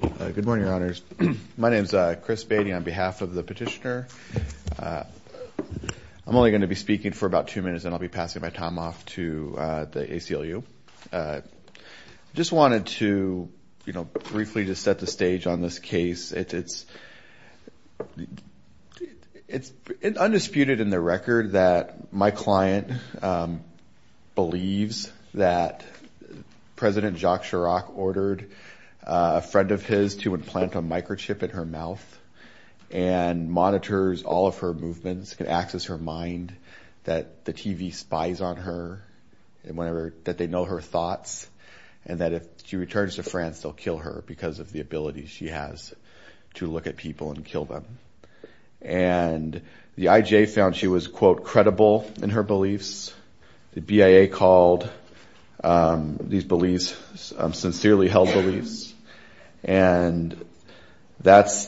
Good morning, Your Honors. My name is Chris Beatty on behalf of the petitioner. I'm only going to be speaking for about two minutes and I'll be passing my time off to the ACLU. Just wanted to briefly set the stage on this case. It's undisputed in the record that my president Jacques Chirac ordered a friend of his to implant a microchip in her mouth and monitors all of her movements, can access her mind, that the TV spies on her, that they know her thoughts, and that if she returns to France they'll kill her because of the ability she has to look at people and kill them. And the IJ found she was, quote, credible in her beliefs. The BIA called these beliefs sincerely held beliefs. And that's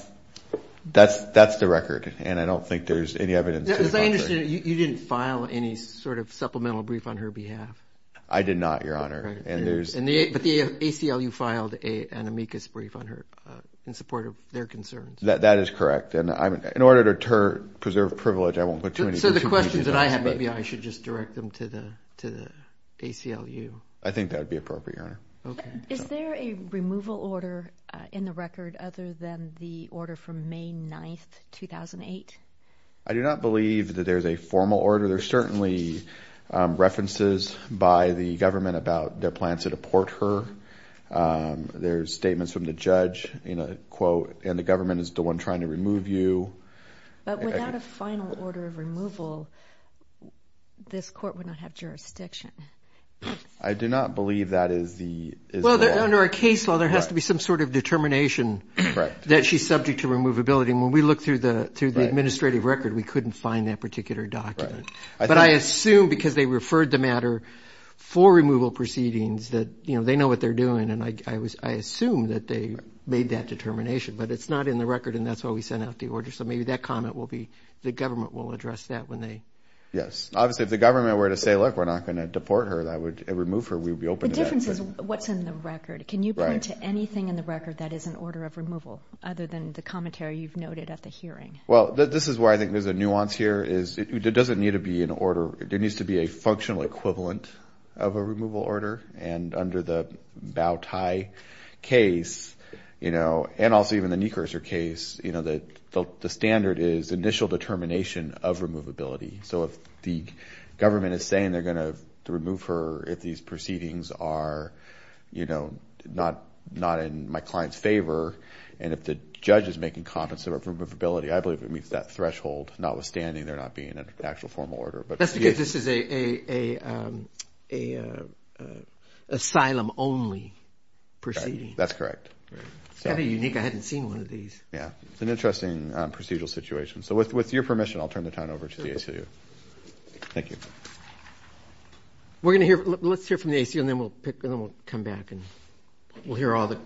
the record and I don't think there's any evidence to the contrary. As I understand it, you didn't file any sort of supplemental brief on her behalf. I did not, Your Honor. But the ACLU filed an amicus brief on her in support of their concerns. That is correct. And in order to preserve privilege, I won't go too much into that. So the questions that I have, maybe I should just direct them to the ACLU. I think that would be appropriate, Your Honor. Okay. Is there a removal order in the record other than the order from May 9th, 2008? I do not believe that there's a formal order. There's certainly references by the government about their plans to deport her. There's statements from the judge in a quote, and the government is the one trying to remove you. But without a final order of removal, this court would not have jurisdiction. I do not believe that is the law. Well, under a case law, there has to be some sort of determination that she's subject to removability. And when we looked through the administrative record, we couldn't find that particular document. But I assume because they referred the matter for removal proceedings that they know what they're doing. And I assume that they made that determination, but it's not in the record, and that's why we sent out the order. So maybe that comment will be, the government will address that when they... Yes. Obviously, if the government were to say, look, we're not going to deport her, that would remove her. We would be open to that. The difference is what's in the record. Can you point to anything in the record that is an order of removal other than the commentary you've noted at the hearing? Well, this is where I think there's a nuance here is it doesn't need to be an order. There needs to be a functional equivalent of a removal order. And under the Bowtie case, you know, and also even the Niekraser case, you know, the standard is initial determination of removability. So if the government is saying they're going to remove her if these proceedings are, you know, not in my client's favor, and if the judge is making comments about removability, I believe it meets that threshold, notwithstanding there not being an actual formal order. That's because this is an asylum-only proceeding. That's correct. It's kind of unique. I hadn't seen one of these. Yeah. It's an interesting procedural situation. So with your permission, I'll turn the time over to the ACLU. Thank you. We're going to hear, let's hear from the ACLU, and then we'll pick, and then we'll come back and we'll hear all the...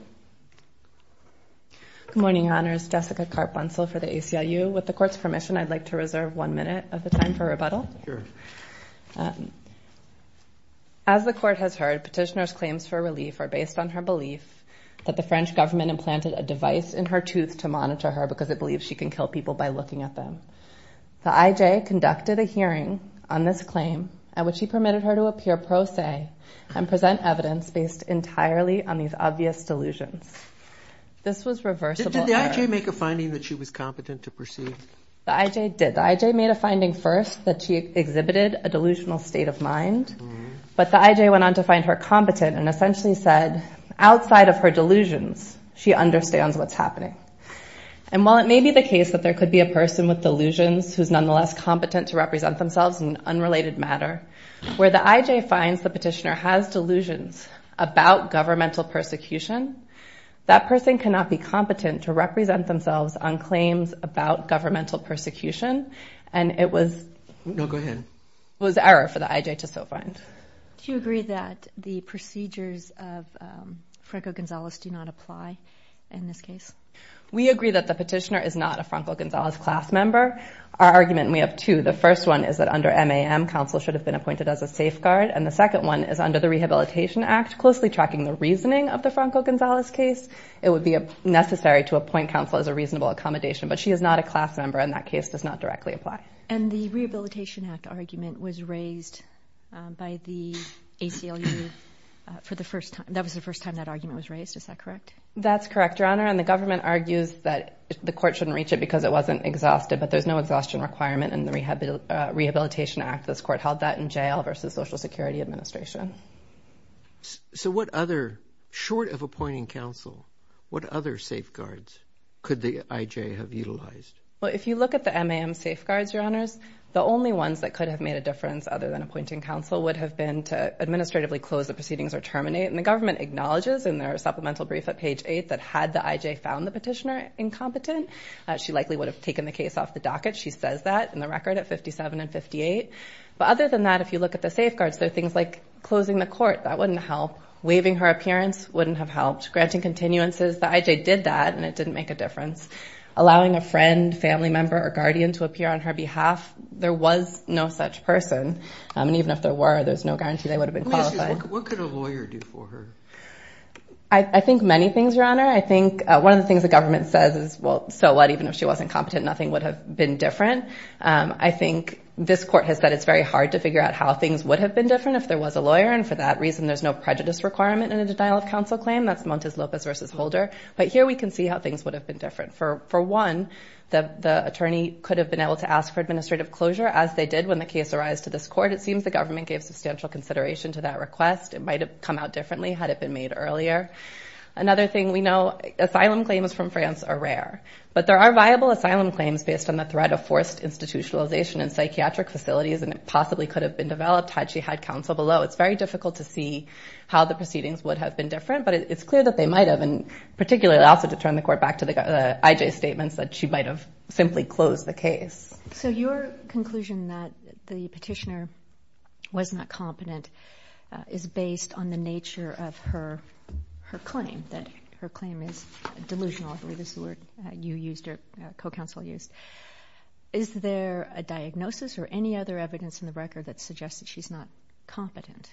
Good morning, Your Honors. Jessica Karp-Bunsell for the ACLU. With the Court's permission, I'd like to reserve one minute of the time for rebuttal. Sure. As the Court has heard, petitioner's claims for relief are based on her belief that the French government implanted a device in her tooth to monitor her because it believes she can kill people by looking at them. The IJ conducted a hearing on this claim at which he permitted her to appear pro se and present evidence based entirely on these obvious delusions. This was reversible error. Did the IJ make a finding that she was competent to proceed? The IJ did. The IJ made a finding first that she exhibited a delusional state of mind, but the IJ went on to find her competent and essentially said, outside of her delusions, she understands what's happening. And while it may be the case that there could be a person with delusions who's nonetheless competent to represent themselves in unrelated matter, where the IJ finds the petitioner has delusions about governmental persecution, that person cannot be competent to represent themselves on claims about governmental persecution, and it was error for the IJ to so find. Do you agree that the procedures of Franco Gonzalez do not apply in this case? We agree that the petitioner is not a Franco Gonzalez class member. Our argument, we have two. The first one is that under MAM, counsel should have been appointed as a safeguard, and the second one is under the Rehabilitation Act, closely tracking the reasoning of the Franco Gonzalez as a reasonable accommodation, but she is not a class member, and that case does not directly apply. And the Rehabilitation Act argument was raised by the ACLU for the first time. That was the first time that argument was raised. Is that correct? That's correct, Your Honor, and the government argues that the court shouldn't reach it because it wasn't exhausted, but there's no exhaustion requirement in the Rehabilitation Act. This court held that in jail versus Social Security Administration. So what other, short of appointing counsel, what other safeguards could the IJ have utilized? Well, if you look at the MAM safeguards, Your Honors, the only ones that could have made a difference other than appointing counsel would have been to administratively close the proceedings or terminate, and the government acknowledges in their supplemental brief at page 8 that had the IJ found the petitioner incompetent, she likely would have taken the case off the docket. She says that in the record at 57 and 58. But other than that, if you look at the safeguards, there are things like closing the court, that wouldn't help. Waiving her appearance wouldn't have helped. Granting continuances, the IJ did that and it didn't make a difference. Allowing a friend, family member, or guardian to appear on her behalf, there was no such person. And even if there were, there's no guarantee they would have been qualified. What could a lawyer do for her? I think many things, Your Honor. I think one of the things the government says is, well, so what, even if she wasn't competent, nothing would have been different. I think this court has said it's very hard to figure out how things would have been different if there was a lawyer. And for that reason, there's no prejudice requirement in a denial of counsel claim. That's Montes Lopez versus Holder. But here we can see how things would have been different. For one, the attorney could have been able to ask for administrative closure, as they did when the case arised to this court. It seems the government gave substantial consideration to that request. It might have come out differently had it been made earlier. Another thing we know, asylum claims from France are rare. But there are viable asylum claims based on the threat of forced institutionalization in psychiatric facilities, and it possibly could have been developed had she had counsel below. It's very difficult to see how the proceedings would have been different, but it's clear that they might have, and particularly also to turn the court back to the IJ statements, that she might have simply closed the case. So your conclusion that the petitioner was not competent is based on the nature of her claim, that her claim is delusional, I believe is the word you used or co-counsel used. Is there a diagnosis or any other evidence in the record that suggests that she's not competent?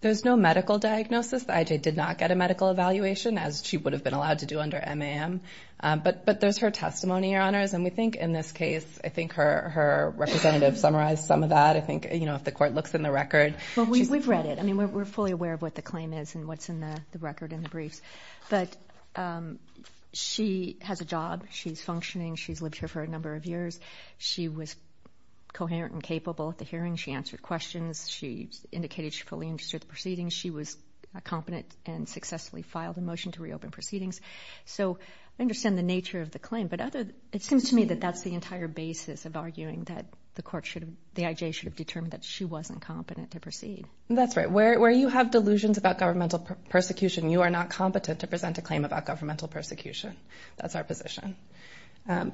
There's no medical diagnosis. The IJ did not get a medical evaluation, as she would have been allowed to do under MAM. But there's her testimony, Your Honors. And we think in this case, I think her representative summarized some of that. I think, you know, if the court looks in the record. Well, we've read it. I mean, we're fully aware of what the claim is and what's in the record in the briefs. But she has a job. She's functioning. She's lived here for a number of years. She was coherent and capable at the hearing. She answered questions. She indicated she fully understood the proceedings. She was competent and successfully filed a motion to reopen proceedings. So I understand the nature of the claim. But it seems to me that that's the entire basis of arguing that the IJ should have determined that she wasn't competent to proceed. That's right. Where you have delusions about governmental persecution, you are not competent to present a claim about governmental persecution. That's our position.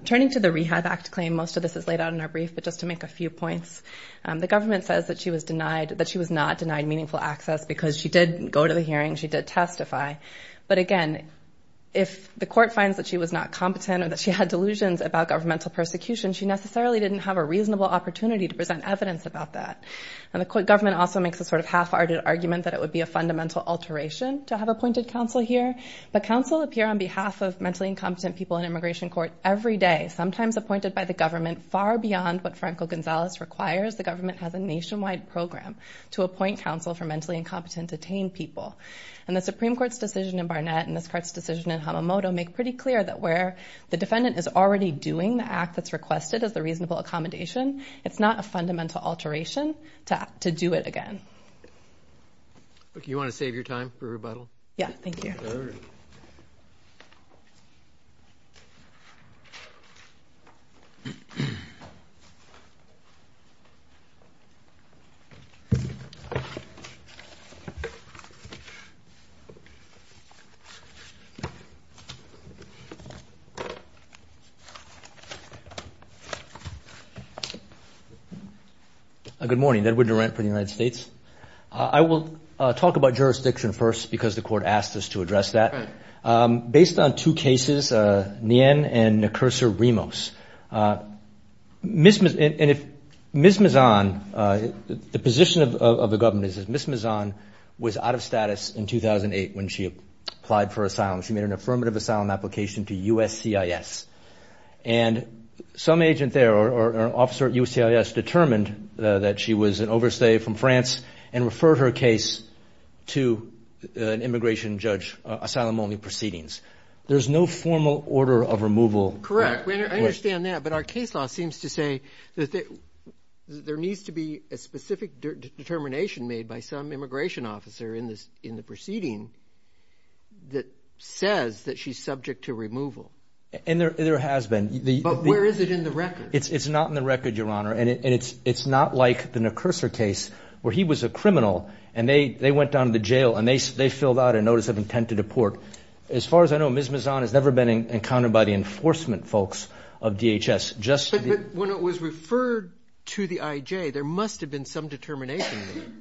Turning to the Rehab Act claim, most of this is laid out in our brief. But just to make a few points, the government says that she was denied, that she was not denied meaningful access because she did go to the hearing. She did testify. But again, if the court finds that she was not competent or that she had delusions about governmental persecution, she necessarily didn't have a reasonable opportunity to present evidence about that. And the court government also makes a sort of half-hearted argument that it would be a fundamental alteration to have appointed counsel here. But counsel appear on behalf of mentally incompetent people in immigration court every day, sometimes appointed by the government far beyond what Franco Gonzalez requires. The government has a nationwide program to appoint counsel for mentally incompetent detained people. And the Supreme Court's decision in Barnett and this court's decision in Hamamoto make pretty clear that where the defendant is already doing the act that's requested as the reasonable accommodation, it's not a fundamental alteration to do it again. Do you want to save your time for rebuttal? Yeah, thank you. Good morning. Edward Durant for the United States. I will talk about jurisdiction first because the court asked us to address that. Based on two cases, Nguyen and Nekursa Rimos, Ms. Mizon, the position of the government is that Ms. Mizon was out of status in 2008 when she applied for asylum. She made an affirmative asylum application to USCIS. And some agent there or officer at USCIS determined that she was an overstay from France and referred her case to an immigration judge, asylum only proceedings. There's no formal order of removal. Correct. I understand that, but our case law seems to say that there needs to be a specific determination made by some immigration officer in the proceeding that says that she's subject to removal. And there has been. But where is it in the record? It's not in the record, Your Honor. And it's not like the Nekursa case where he was a criminal and they went down to the jail and they filled out a notice of intent to deport. As far as I know, Ms. Mizon has never been encountered by the enforcement folks of DHS. But when it was referred to the IJ, there must have been some determination made.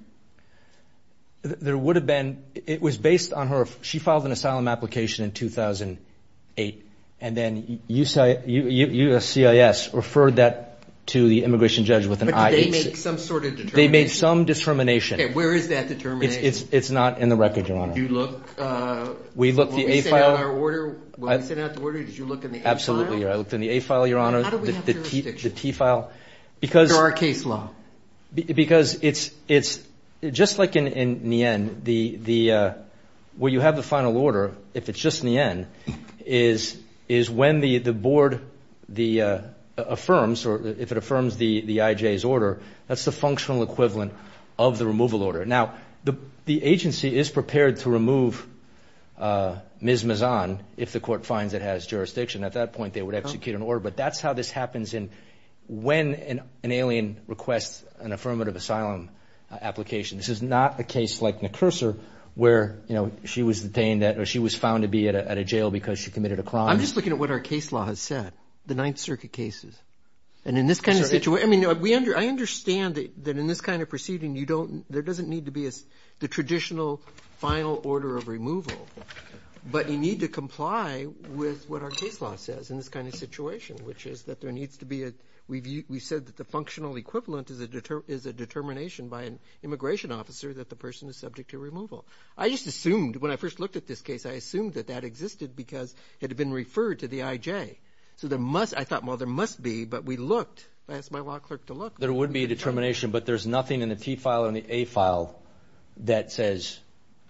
There would have been. It was based on her. She filed an asylum application in 2008, and then USCIS referred that to the immigration judge with an IHC. But did they make some sort of determination? They made some determination. Okay, where is that determination? It's not in the record, Your Honor. When we sent out the order, did you look in the A file? Absolutely. I looked in the A file, Your Honor. How do we have jurisdiction? The T file. Under our case law. Because it's just like in Nien, where you have the final order, if it's just Nien, is when the board affirms or if it affirms the IJ's order, that's the functional equivalent of the removal order. Now, the agency is prepared to remove Ms. Mizon if the court finds it has jurisdiction. At that point, they would execute an order. But that's how this happens in when an alien requests an affirmative asylum application. This is not a case like Nekursar where, you know, she was detained or she was found to be at a jail because she committed a crime. I'm just looking at what our case law has said, the Ninth Circuit cases. And in this kind of situation, I mean, I understand that in this kind of proceeding, there doesn't need to be the traditional final order of removal. But you need to comply with what our case law says in this kind of situation, which is that there needs to be a review. We said that the functional equivalent is a determination by an immigration officer that the person is subject to removal. I just assumed, when I first looked at this case, I assumed that that existed because it had been referred to the IJ. So I thought, well, there must be, but we looked. I asked my law clerk to look. There would be a determination, but there's nothing in the T file and the A file that says,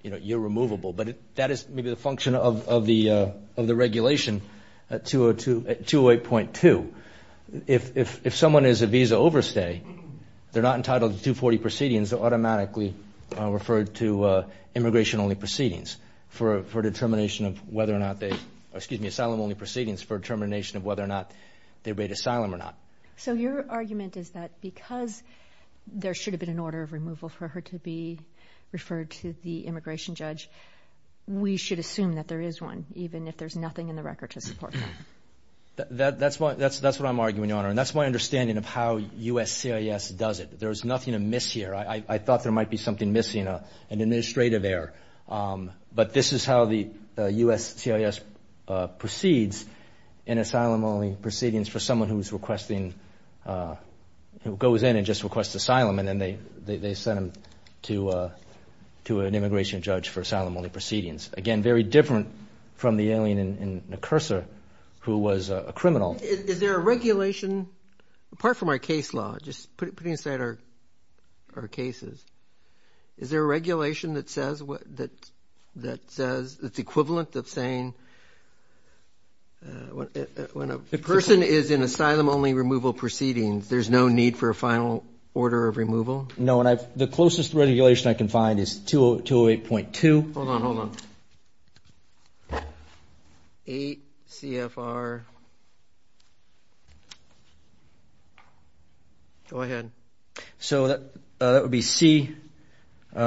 you know, you're removable. But that is maybe the function of the regulation at 208.2. If someone is a visa overstay, they're not entitled to 240 proceedings. They're automatically referred to immigration-only proceedings for determination of whether or not they, excuse me, asylum-only proceedings for determination of whether or not they've made asylum or not. So your argument is that because there should have been an order of removal for her to be referred to the immigration judge, we should assume that there is one, even if there's nothing in the record to support that? That's what I'm arguing, Your Honor. And that's my understanding of how USCIS does it. There's nothing amiss here. I thought there might be something missing, an administrative error. But this is how the USCIS proceeds in asylum-only proceedings for someone who's requesting, who goes in and just requests asylum, and then they send them to an immigration judge for asylum-only proceedings. Again, very different from the alien in the cursor who was a criminal. Is there a regulation, apart from our case law, just putting aside our cases, is there a regulation that says it's equivalent of saying when a person is in asylum-only removal proceedings, there's no need for a final order of removal? No, and the closest regulation I can find is 208.2. Hold on, hold on. 8 CFR. Go ahead. So that would be C. 8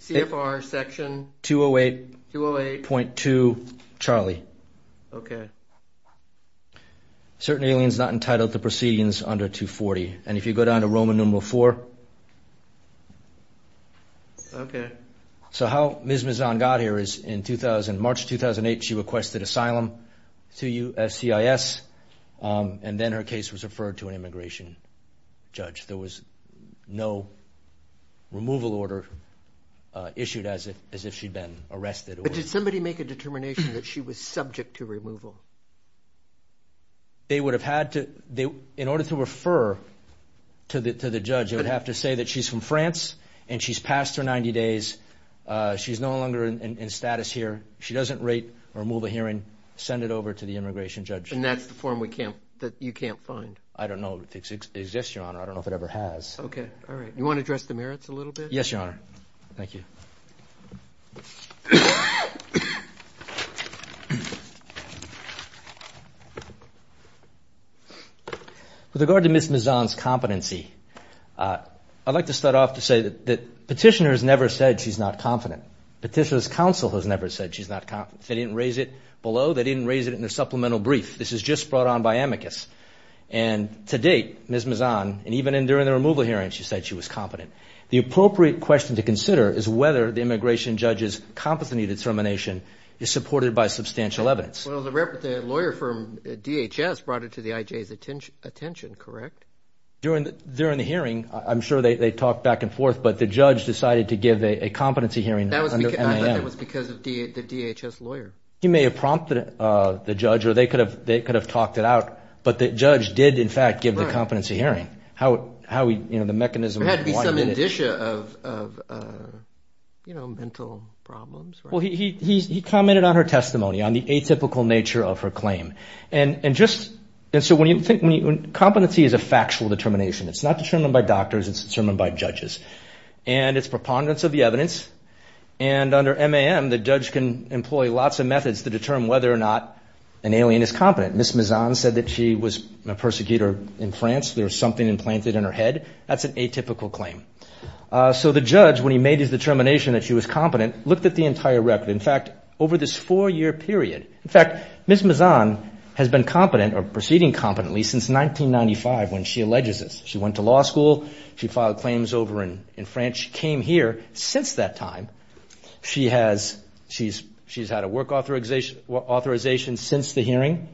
CFR section. 208.2. Charlie. Okay. Certain aliens not entitled to proceedings under 240. And if you go down to Roman numeral 4. Okay. So how Ms. Mizan got here is in 2000, March 2008, she requested asylum to USCIS, and then her case was referred to an immigration judge. There was no removal order issued as if she'd been arrested. But did somebody make a determination that she was subject to removal? They would have had to, in order to refer to the judge, they would have to say that she's from France and she's passed her 90 days, she's no longer in status here, she doesn't rate or move a hearing, send it over to the immigration judge. And that's the form that you can't find? I don't know if it exists, Your Honor. I don't know if it ever has. Okay. All right. You want to address the merits a little bit? Yes, Your Honor. Thank you. With regard to Ms. Mizan's competency, I'd like to start off to say that Petitioner has never said she's not confident. Petitioner's counsel has never said she's not confident. They didn't raise it below. They didn't raise it in their supplemental brief. This is just brought on by amicus. And to date, Ms. Mizan, and even during the removal hearing, she said she was confident. The appropriate question to consider is whether the immigration judge's competency determination is supported by substantial evidence. Well, the lawyer from DHS brought it to the IJ's attention, correct? During the hearing, I'm sure they talked back and forth, but the judge decided to give a competency hearing. I thought that was because of the DHS lawyer. He may have prompted the judge or they could have talked it out, but the judge did, in fact, give the competency hearing. How we, you know, the mechanism. There had to be some indicia of, you know, mental problems. Well, he commented on her testimony, on the atypical nature of her claim. And just, and so when you think, competency is a factual determination. It's not determined by doctors. It's determined by judges. And it's preponderance of the evidence. And under MAM, the judge can employ lots of methods to determine whether or not an alien is competent. Ms. Mizan said that she was a persecutor in France. There was something implanted in her head. That's an atypical claim. So the judge, when he made his determination that she was competent, looked at the entire record. In fact, over this four-year period, in fact, Ms. Mizan has been competent or proceeding competently since 1995 when she alleges this. She went to law school. She filed claims over in France. And she came here since that time. She has, she's had a work authorization since the hearing.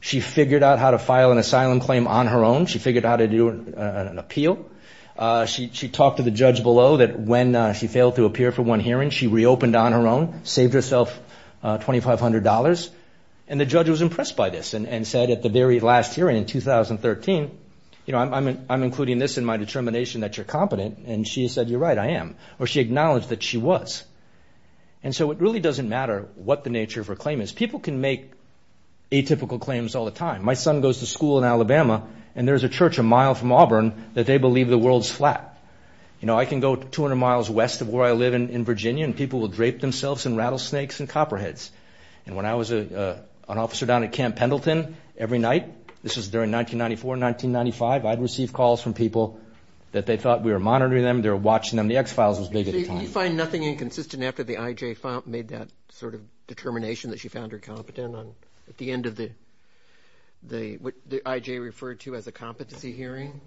She figured out how to file an asylum claim on her own. She figured out how to do an appeal. She talked to the judge below that when she failed to appear for one hearing, she reopened on her own, saved herself $2,500. And the judge was impressed by this and said at the very last hearing in 2013, you know, I'm including this in my determination that you're competent. And she said, you're right, I am. Or she acknowledged that she was. And so it really doesn't matter what the nature of her claim is. People can make atypical claims all the time. My son goes to school in Alabama, and there's a church a mile from Auburn that they believe the world's flat. You know, I can go 200 miles west of where I live in Virginia, and people will drape themselves in rattlesnakes and copperheads. And when I was an officer down at Camp Pendleton every night, this was during 1994, 1995, I'd receive calls from people that they thought we were monitoring them, they were watching them. The X-Files was big at the time. Did you find nothing inconsistent after the IJ made that sort of determination that she found her competent? At the end of the, what the IJ referred to as a competency hearing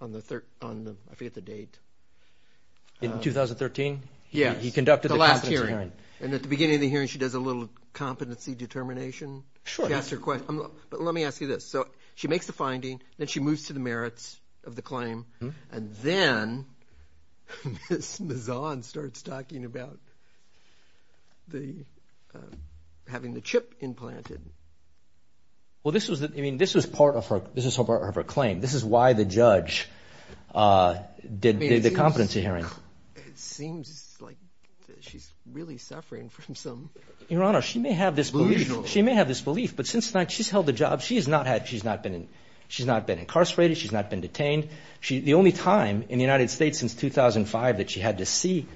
on the, I forget the date. In 2013? Yes. He conducted the competency hearing. And at the beginning of the hearing, she does a little competency determination. Sure. She asks her question. But let me ask you this. So she makes the finding, then she moves to the merits of the claim, and then Ms. Mazon starts talking about having the chip implanted. Well, this was part of her claim. This is why the judge did the competency hearing. It seems like she's really suffering from some belief. Your Honor, she may have this belief, but since she's held the job, she's not been incarcerated. She's not been detained. The only time in the United States since 2005 that she had to see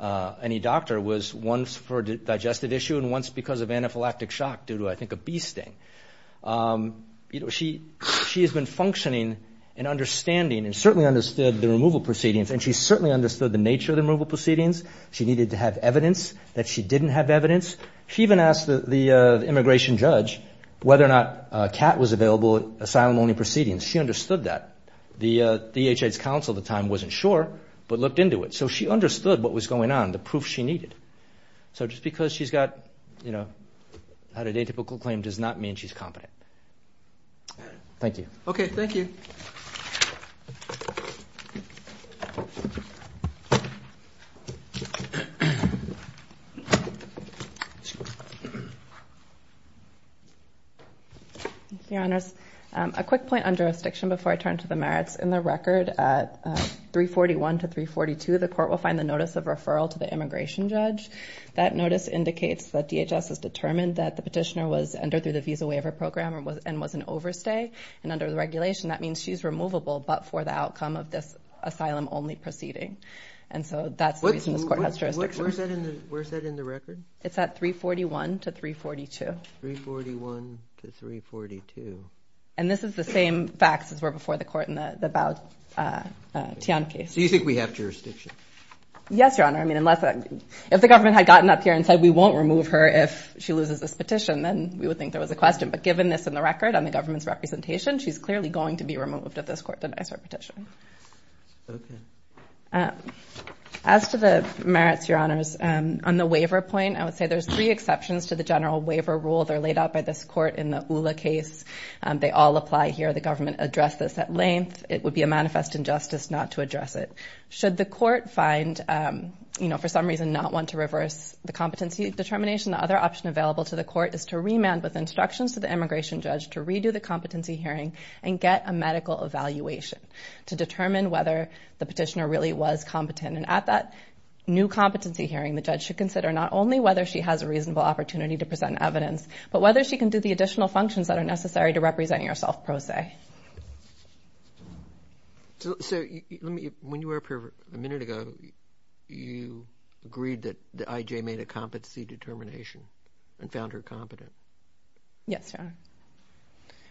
any doctor was once for a digestive issue and once because of anaphylactic shock due to, I think, a bee sting. She has been functioning and understanding and certainly understood the removal proceedings, and she certainly understood the nature of the removal proceedings. She needed to have evidence that she didn't have evidence. She even asked the immigration judge whether or not a cat was available at asylum-only proceedings. She understood that. The EHA's counsel at the time wasn't sure but looked into it. So she understood what was going on, the proof she needed. So just because she's had an atypical claim does not mean she's competent. Thank you. Okay. Thank you. Thank you. Your Honors, a quick point on jurisdiction before I turn to the merits. In the record at 341 to 342, the court will find the notice of referral to the immigration judge. That notice indicates that DHS has determined that the petitioner was entered through the visa waiver program and was an overstay. And under the regulation, that means she's removable but for the outcome of this asylum-only proceeding. And so that's the reason this court has jurisdiction. Where's that in the record? It's at 341 to 342. 341 to 342. And this is the same facts as were before the court in the Baud Tian case. So you think we have jurisdiction? Yes, Your Honor. I mean, if the government had gotten up here and said, we won't remove her if she loses this petition, then we would think there was a question. But given this in the record on the government's representation, she's clearly going to be removed if this court denies her petition. Okay. As to the merits, Your Honors, on the waiver point, I would say there's three exceptions to the general waiver rule that are laid out by this court in the ULA case. They all apply here. The government addressed this at length. It would be a manifest injustice not to address it. Should the court find, you know, for some reason not one to reverse the competency determination, the other option available to the court is to remand with instructions to the immigration judge to redo the competency hearing and get a medical evaluation to determine whether the petitioner really was competent. And at that new competency hearing, the judge should consider not only whether she has a reasonable opportunity to present evidence, but whether she can do the additional functions that are necessary to represent yourself pro se. Okay. So when you were up here a minute ago, you agreed that the I.J. made a competency determination and found her competent. Yes, Your Honor.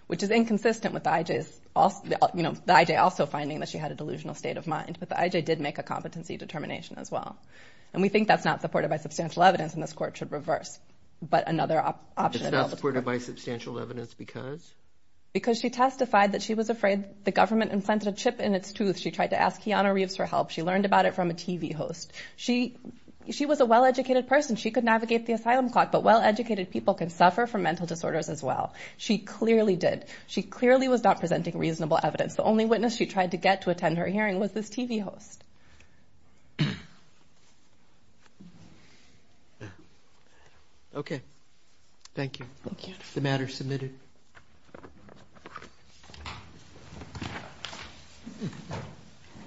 Which is inconsistent with the I.J.'s, you know, the I.J. also finding that she had a delusional state of mind, but the I.J. did make a competency determination as well. And we think that's not supported by substantial evidence and this court should reverse, but another option available to the court. It's not supported by substantial evidence because? Because she testified that she was afraid the government implanted a chip in its tooth. She tried to ask Keanu Reeves for help. She learned about it from a TV host. She was a well-educated person. She could navigate the asylum clock, but well-educated people can suffer from mental disorders as well. She clearly did. She clearly was not presenting reasonable evidence. The only witness she tried to get to attend her hearing was this TV host. Okay. Thank you. The matter is submitted.